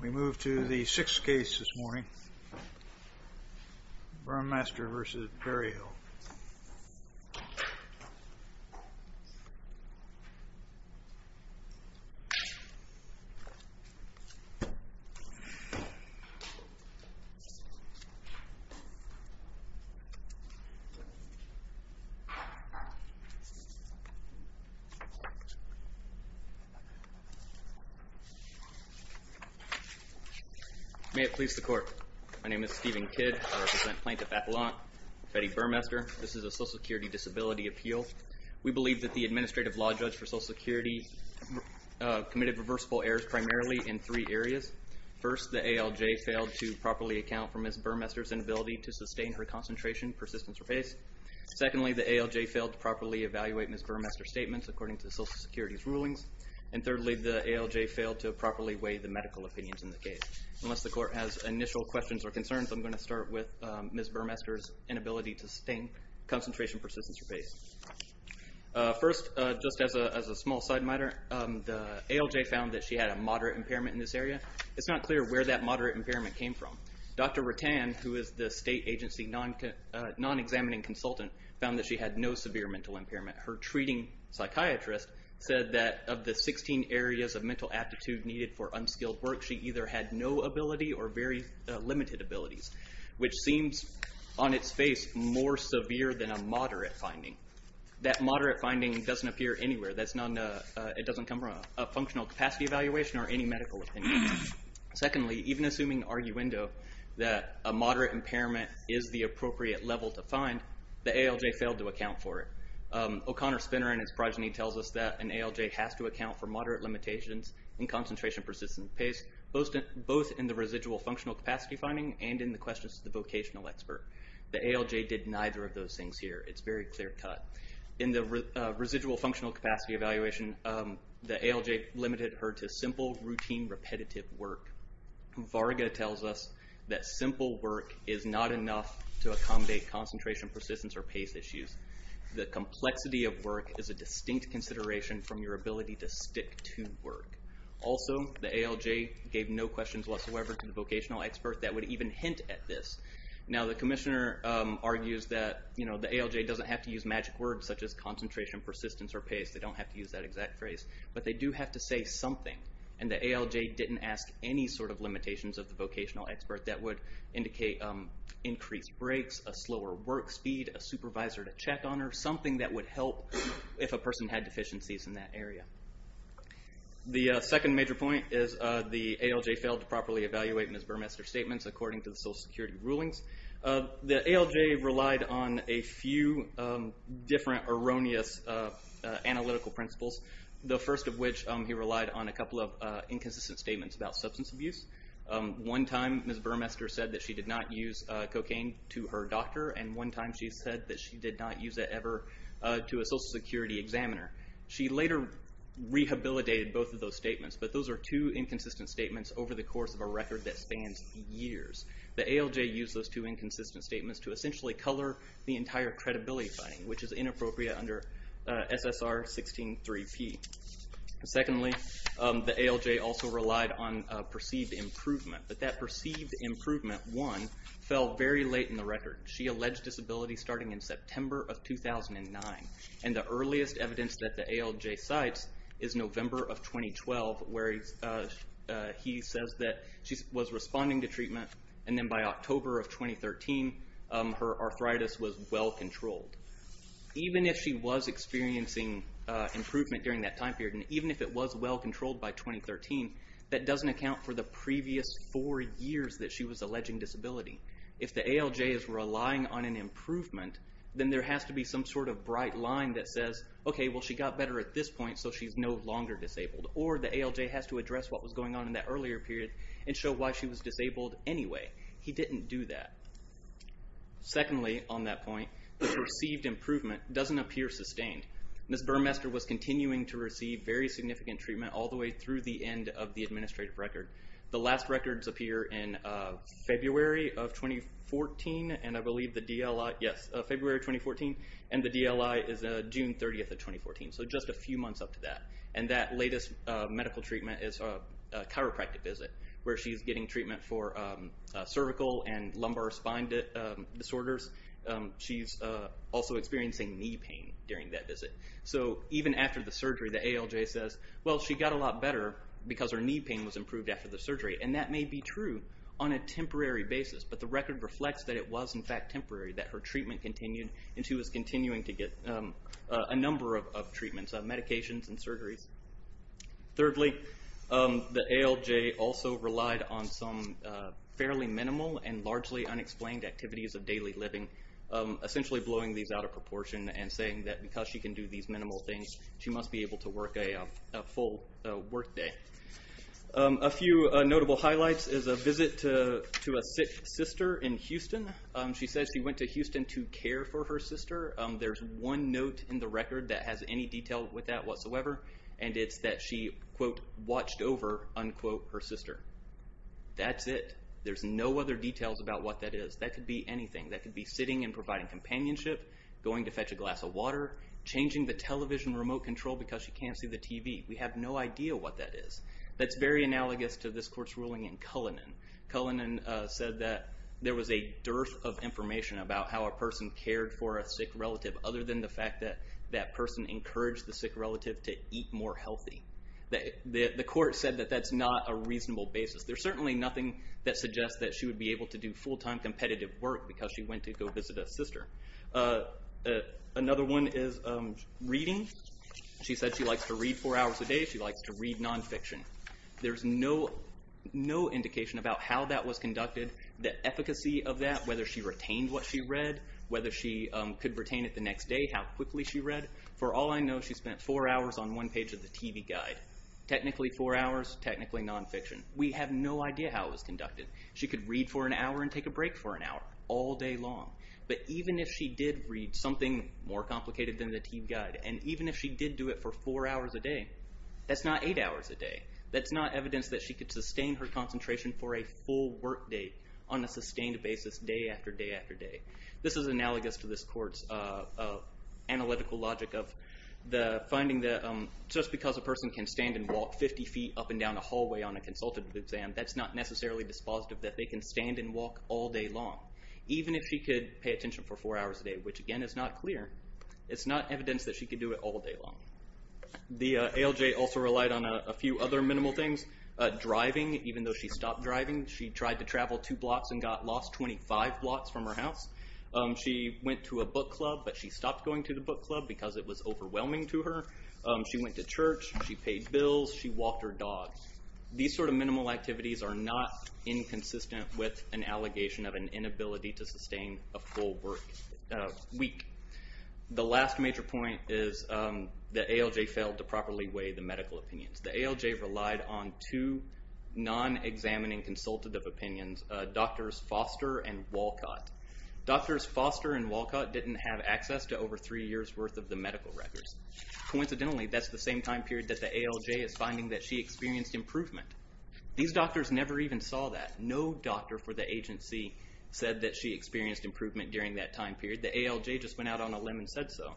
We move to the sixth case this morning, Burmester v. Berryhill. May it please the Court. My name is Stephen Kidd. I represent Plaintiff Appellant Betty Burmester. This is a Social Security Disability Appeal. We believe that the Administrative Law Judge for Social Security committed reversible errors primarily in three areas. First, the ALJ failed to properly account for Ms. Burmester's inability to sustain her concentration, persistence, or pace. Secondly, the ALJ failed to properly evaluate Ms. Burmester's statements according to Social Security's rulings. And thirdly, the ALJ failed to properly weigh the medical opinions in the case. Unless the Court has initial questions or concerns, I'm going to start with Ms. Burmester's inability to sustain concentration, persistence, or pace. First, just as a small side matter, the ALJ found that she had a moderate impairment in this area. It's not clear where that moderate impairment came from. Dr. Rattan, who is the state agency non-examining consultant, found that she had no severe mental impairment. Her treating psychiatrist said that of the 16 areas of mental aptitude needed for unskilled work, she either had no ability or very limited abilities, which seems on its face more severe than a moderate finding. That moderate finding doesn't appear anywhere. It doesn't come from a functional capacity evaluation or any medical opinion. Secondly, even assuming arguendo that a moderate impairment is the appropriate level to find, the ALJ failed to account for it. O'Connor Spinner and his progeny tells us that an ALJ has to account for moderate limitations in concentration, persistence, and pace, both in the residual functional capacity finding and in the questions to the vocational expert. The ALJ did neither of those things here. It's very clear cut. In the residual functional capacity evaluation, the ALJ limited her to simple, routine, repetitive work. Varga tells us that simple work is not enough to accommodate concentration, persistence, or pace issues. The complexity of work is a distinct consideration from your ability to stick to work. Also, the ALJ gave no questions whatsoever to the vocational expert that would even hint at this. Now, the commissioner argues that the ALJ doesn't have to use magic words such as concentration, persistence, or pace. They don't have to use that exact phrase, but they do have to say something, and the ALJ didn't ask any sort of limitations of the vocational expert that would indicate increased breaks, a slower work speed, a supervisor to check on her, something that would help if a person had deficiencies in that area. The second major point is the ALJ failed to properly evaluate Ms. Burmester's statements according to the Social Security rulings. The ALJ relied on a few different erroneous analytical principles, the first of which he relied on a couple of inconsistent statements about substance abuse. One time Ms. Burmester said that she did not use cocaine to her doctor, and one time she said that she did not use it ever to a Social Security examiner. She later rehabilitated both of those statements, but those are two inconsistent statements over the course of a record that spans years. The ALJ used those two inconsistent statements to essentially color the entire credibility finding, which is inappropriate under SSR 16-3P. Secondly, the ALJ also relied on perceived improvement, but that perceived improvement, one, fell very late in the record. She alleged disability starting in September of 2009, and the earliest evidence that the ALJ cites is November of 2012, where he says that she was responding to treatment, and then by October of 2013, her arthritis was well controlled. Even if she was experiencing improvement during that time period, and even if it was well controlled by 2013, that doesn't account for the previous four years that she was alleging disability. If the ALJ is relying on an improvement, then there has to be some sort of bright line that says, okay, well, she got better at this point, so she's no longer disabled, or the ALJ has to address what was going on in that earlier period and show why she was disabled anyway. He didn't do that. Secondly, on that point, the perceived improvement doesn't appear sustained. Ms. Burmester was continuing to receive very significant treatment all the way through the end of the administrative record. The last records appear in February of 2014, and I believe the DLI, yes, February 2014, and the DLI is June 30th of 2014, so just a few months up to that. And that latest medical treatment is a chiropractic visit, where she's getting treatment for cervical and lumbar spine disorders. She's also experiencing knee pain during that visit. So even after the surgery, the ALJ says, well, she got a lot better because her knee pain was improved after the surgery, and that may be true on a temporary basis, but the record reflects that it was in fact temporary, that her treatment continued, and she was continuing to get a number of treatments, medications and surgeries. Thirdly, the ALJ also relied on some fairly minimal and largely unexplained activities of daily living, essentially blowing these out of proportion and saying that because she can do these minimal things, she must be able to work a full workday. A few notable highlights is a visit to a sister in Houston. She says she went to Houston to care for her sister. There's one note in the record that has any detail with that whatsoever, and it's that she, quote, watched over, unquote, her sister. That's it. There's no other details about what that is. That could be anything. That could be sitting and providing companionship, going to fetch a glass of water, changing the television remote control because she can't see the TV. We have no idea what that is. That's very analogous to this court's ruling in Cullinan. Cullinan said that there was a dearth of information about how a person cared for a sick relative, other than the fact that that person encouraged the sick relative to eat more healthy. The court said that that's not a reasonable basis. There's certainly nothing that suggests that she would be able to do full-time competitive work because she went to go visit a sister. Another one is reading. She said she likes to read four hours a day. She likes to read nonfiction. There's no indication about how that was conducted, the efficacy of that, whether she retained what she read, whether she could retain it the next day, how quickly she read. For all I know, she spent four hours on one page of the TV guide. Technically four hours, technically nonfiction. We have no idea how it was conducted. She could read for an hour and take a break for an hour, all day long. But even if she did read something more complicated than the TV guide, and even if she did do it for four hours a day, that's not eight hours a day. That's not evidence that she could sustain her concentration for a full workday on a sustained basis day after day after day. This is analogous to this court's analytical logic of finding that just because a person can stand and walk 50 feet up and down a hallway on a consultative exam, that's not necessarily dispositive that they can stand and walk all day long. Even if she could pay attention for four hours a day, which again is not clear, it's not evidence that she could do it all day long. The ALJ also relied on a few other minimal things. Driving, even though she stopped driving, she tried to travel two blocks and got lost 25 blocks from her house. She went to a book club, but she stopped going to the book club because it was overwhelming to her. She went to church, she paid bills, she walked her dog. These sort of minimal activities are not inconsistent with an allegation of an inability to sustain a full week. The last major point is the ALJ failed to properly weigh the medical opinions. The ALJ relied on two non-examining consultative opinions, Doctors Foster and Walcott. Doctors Foster and Walcott didn't have access to over three years' worth of the medical records. Coincidentally, that's the same time period that the ALJ is finding that she experienced improvement. These doctors never even saw that. No doctor for the agency said that she experienced improvement during that time period. The ALJ just went out on a limb and said so.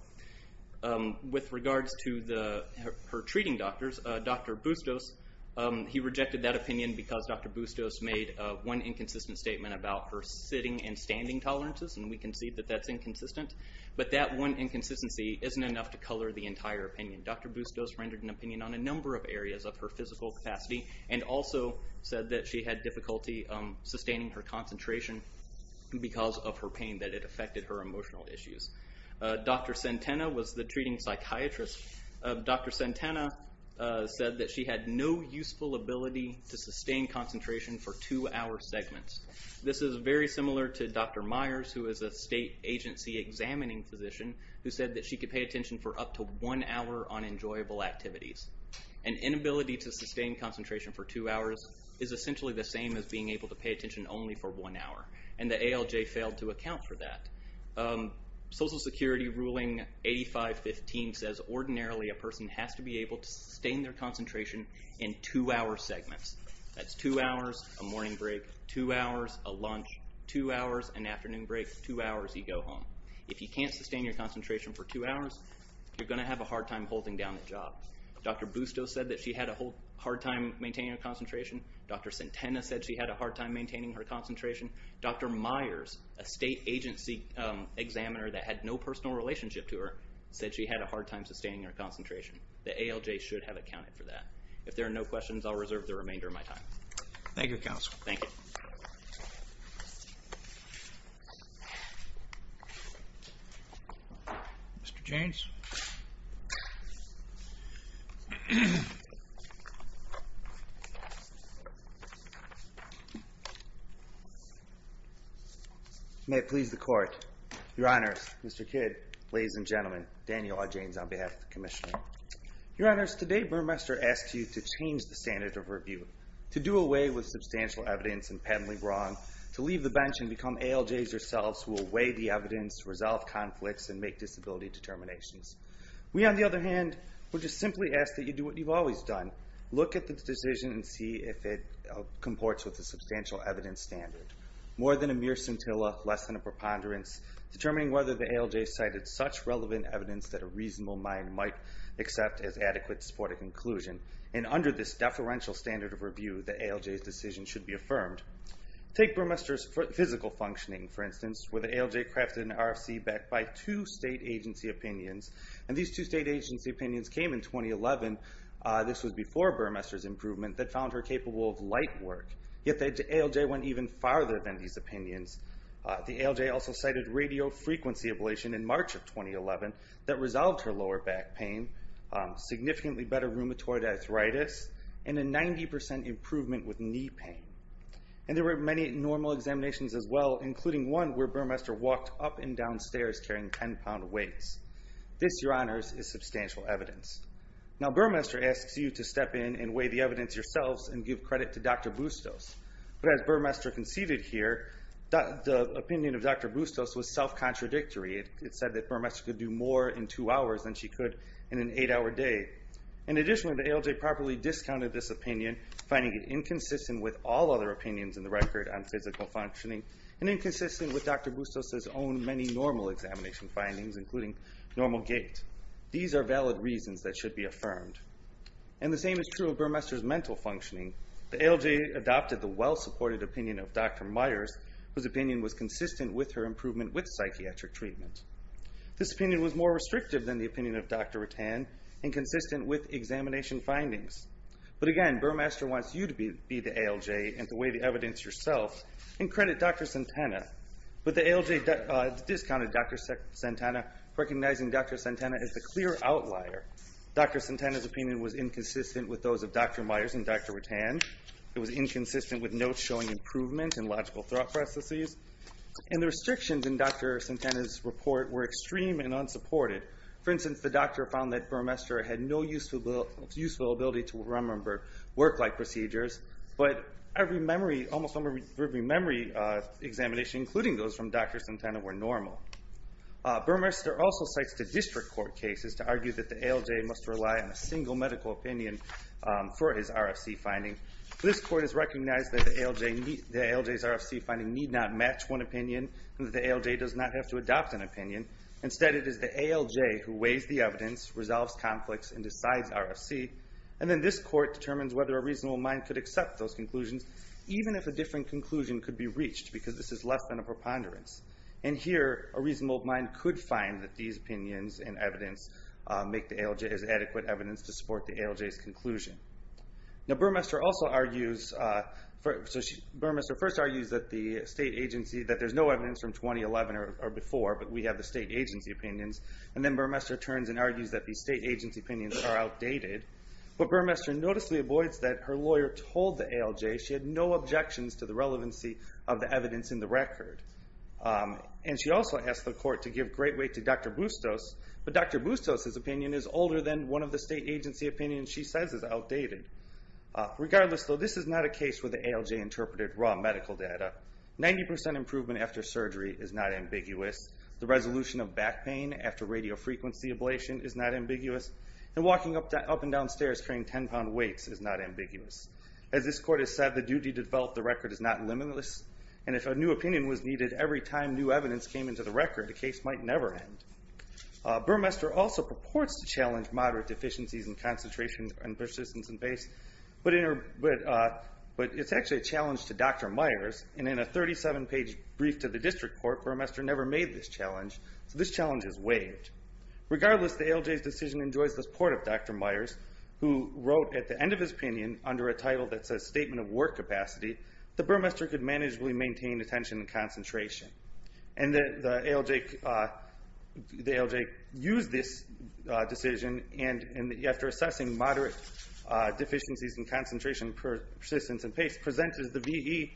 With regards to her treating doctors, Dr. Bustos rejected that opinion because Dr. Bustos made one inconsistent statement about her sitting and standing tolerances, and we concede that that's inconsistent. But that one inconsistency isn't enough to color the entire opinion. Dr. Bustos rendered an opinion on a number of areas of her physical capacity and also said that she had difficulty sustaining her concentration because of her pain, that it affected her emotional issues. Dr. Santana was the treating psychiatrist. Dr. Santana said that she had no useful ability to sustain concentration for two-hour segments. This is very similar to Dr. Myers, who is a state agency examining physician, who said that she could pay attention for up to one hour on enjoyable activities. An inability to sustain concentration for two hours is essentially the same as being able to pay attention only for one hour, and the ALJ failed to account for that. Social Security ruling 8515 says ordinarily a person has to be able to sustain their concentration in two-hour segments. That's two hours, a morning break, two hours, a lunch, two hours, an afternoon break, two hours you go home. If you can't sustain your concentration for two hours, you're going to have a hard time holding down the job. Dr. Bustos said that she had a hard time maintaining her concentration. Dr. Santana said she had a hard time maintaining her concentration. Dr. Myers, a state agency examiner that had no personal relationship to her, said she had a hard time sustaining her concentration. The ALJ should have accounted for that. If there are no questions, I'll reserve the remainder of my time. Thank you, Counsel. Thank you. Mr. Jaynes. May it please the Court. Your Honors, Mr. Kidd, ladies and gentlemen, Daniel A. Jaynes on behalf of the Commission. Your Honors, today Burmester asked you to change the standard of review to do away with substantial evidence and patently wrong, to leave the bench and become ALJs yourselves who will weigh the evidence, resolve conflicts, and make disability determinations. We, on the other hand, would just simply ask that you do what you've always done, look at the decision and see if it comports with the substantial evidence standard. More than a mere scintilla, less than a preponderance, determining whether the ALJ cited such relevant evidence that a reasonable mind might accept as adequate to support a conclusion. And under this deferential standard of review, the ALJ's decision should be affirmed. Take Burmester's physical functioning, for instance, where the ALJ crafted an RFC backed by two state agency opinions. And these two state agency opinions came in 2011. This was before Burmester's improvement that found her capable of light work. Yet the ALJ went even farther than these opinions. The ALJ also cited radiofrequency ablation in March of 2011 that resolved her lower back pain, significantly better rheumatoid arthritis, and a 90% improvement with knee pain. And there were many normal examinations as well, including one where Burmester walked up and down stairs carrying 10-pound weights. This, Your Honors, is substantial evidence. Now Burmester asks you to step in and weigh the evidence yourselves and give credit to Dr. Bustos. But as Burmester conceded here, the opinion of Dr. Bustos was self-contradictory. It said that Burmester could do more in two hours than she could in an eight-hour day. In addition, the ALJ properly discounted this opinion, finding it inconsistent with all other opinions in the record on physical functioning and inconsistent with Dr. Bustos' own many normal examination findings, including normal gait. These are valid reasons that should be affirmed. And the same is true of Burmester's mental functioning. The ALJ adopted the well-supported opinion of Dr. Myers, whose opinion was consistent with her improvement with psychiatric treatment. This opinion was more restrictive than the opinion of Dr. Rutan and consistent with examination findings. But again, Burmester wants you to be the ALJ and to weigh the evidence yourself and credit Dr. Santana. But the ALJ discounted Dr. Santana, recognizing Dr. Santana as the clear outlier. Dr. Santana's opinion was inconsistent with those of Dr. Myers and Dr. Rutan. It was inconsistent with notes showing improvement in logical thought processes. And the restrictions in Dr. Santana's report were extreme and unsupported. For instance, the doctor found that Burmester had no useful ability to remember work-like procedures, but almost every memory examination, including those from Dr. Santana, were normal. Burmester also cites the district court cases to argue that the ALJ must rely on a single medical opinion for his RFC finding. This court has recognized that the ALJ's RFC finding need not match one opinion and that the ALJ does not have to adopt an opinion. Instead, it is the ALJ who weighs the evidence, resolves conflicts, and decides RFC. And then this court determines whether a reasonable mind could accept those conclusions, even if a different conclusion could be reached because this is less than a preponderance. And here, a reasonable mind could find that these opinions and evidence make the ALJ as adequate evidence to support the ALJ's conclusion. Burmester first argues that there's no evidence from 2011 or before, but we have the state agency opinions. And then Burmester turns and argues that the state agency opinions are outdated. But Burmester noticeably avoids that her lawyer told the ALJ she had no objections to the relevancy of the evidence in the record. And she also asked the court to give great weight to Dr. Bustos, but Dr. Bustos' opinion is older than one of the state agency opinions she says is outdated. Regardless, though, this is not a case where the ALJ interpreted raw medical data. Ninety percent improvement after surgery is not ambiguous. The resolution of back pain after radiofrequency ablation is not ambiguous. And walking up and down stairs carrying 10-pound weights is not ambiguous. As this court has said, the duty to develop the record is not limitless. And if a new opinion was needed every time new evidence came into the record, the case might never end. Burmester also purports to challenge moderate deficiencies in concentration and persistence in pace, but it's actually a challenge to Dr. Myers. And in a 37-page brief to the district court, Burmester never made this challenge, so this challenge is waived. Regardless, the ALJ's decision enjoys the support of Dr. Myers, who wrote at the end of his opinion under a title that says statement of work capacity that Burmester could manageably maintain attention and concentration. And the ALJ used this decision, and after assessing moderate deficiencies in concentration, persistence, and pace, presented the VE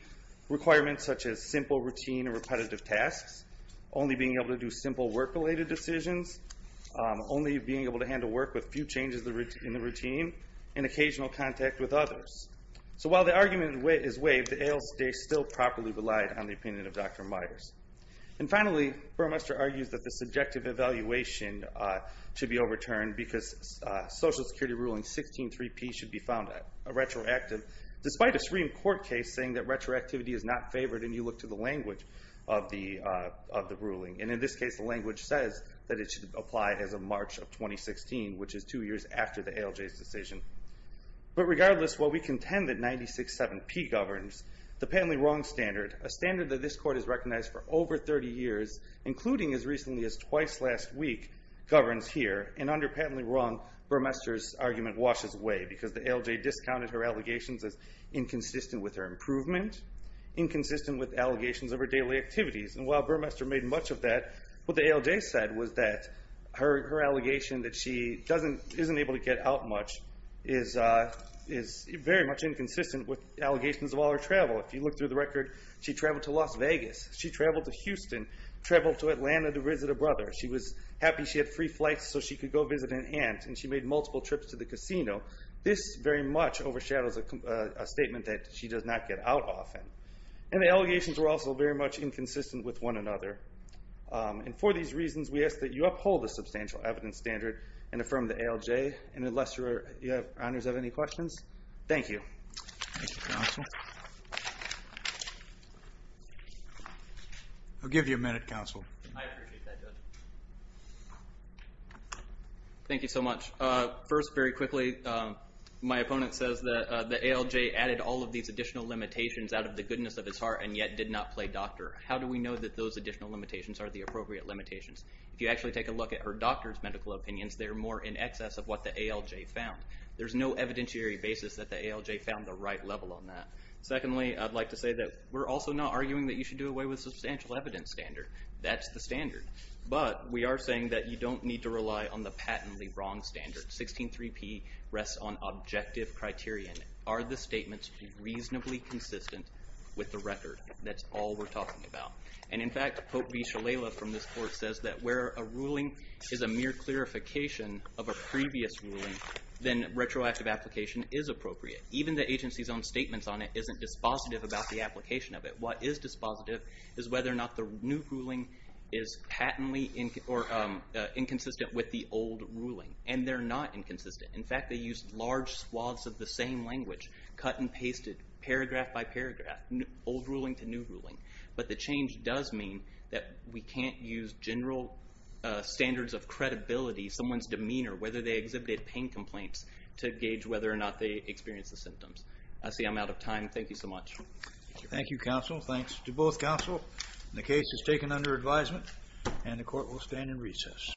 requirements such as simple routine and repetitive tasks, only being able to do simple work-related decisions, only being able to handle work with few changes in the routine, and occasional contact with others. So while the argument is waived, the ALJ still properly relied on the opinion of Dr. Myers. And finally, Burmester argues that the subjective evaluation should be overturned because Social Security Ruling 16-3P should be found retroactive, despite a Supreme Court case saying that retroactivity is not favored and you look to the language of the ruling. And in this case, the language says that it should apply as of March of 2016, which is two years after the ALJ's decision. But regardless, while we contend that 96-7P governs, the patently wrong standard, a standard that this Court has recognized for over 30 years, including as recently as twice last week, governs here. And under patently wrong, Burmester's argument washes away because the ALJ discounted her allegations as inconsistent with her improvement, inconsistent with allegations of her daily activities. And while Burmester made much of that, what the ALJ said was that her allegation that she isn't able to get out much is very much inconsistent with allegations of all her travel. If you look through the record, she traveled to Las Vegas, she traveled to Houston, traveled to Atlanta to visit a brother. She was happy she had free flights so she could go visit an aunt, and she made multiple trips to the casino. This very much overshadows a statement that she does not get out often. And the allegations were also very much inconsistent with one another. And for these reasons, we ask that you uphold the substantial evidence standard and affirm the ALJ. And unless your honors have any questions, thank you. Thank you, Counsel. I'll give you a minute, Counsel. I appreciate that, Judge. Thank you so much. First, very quickly, my opponent says that the ALJ added all of these additional limitations out of the goodness of his heart and yet did not play doctor. How do we know that those additional limitations are the appropriate limitations? If you actually take a look at her doctor's medical opinions, they're more in excess of what the ALJ found. There's no evidentiary basis that the ALJ found the right level on that. Secondly, I'd like to say that we're also not arguing that you should do away with substantial evidence standard. That's the standard. But we are saying that you don't need to rely on the patently wrong standard. 16.3p rests on objective criterion. Are the statements reasonably consistent with the record? That's all we're talking about. And, in fact, Pope V. Shalala from this court says that where a ruling is a mere clarification of a previous ruling, then retroactive application is appropriate. Even the agency's own statements on it isn't dispositive about the application of it. What is dispositive is whether or not the new ruling is patently inconsistent with the old ruling. And they're not inconsistent. In fact, they use large swaths of the same language, cut and pasted, paragraph by paragraph. Old ruling to new ruling. But the change does mean that we can't use general standards of credibility, someone's demeanor, whether they exhibited pain complaints, to gauge whether or not they experienced the symptoms. I see I'm out of time. Thank you so much. Thank you, counsel. Thanks to both counsel. The case is taken under advisement, and the court will stand in recess.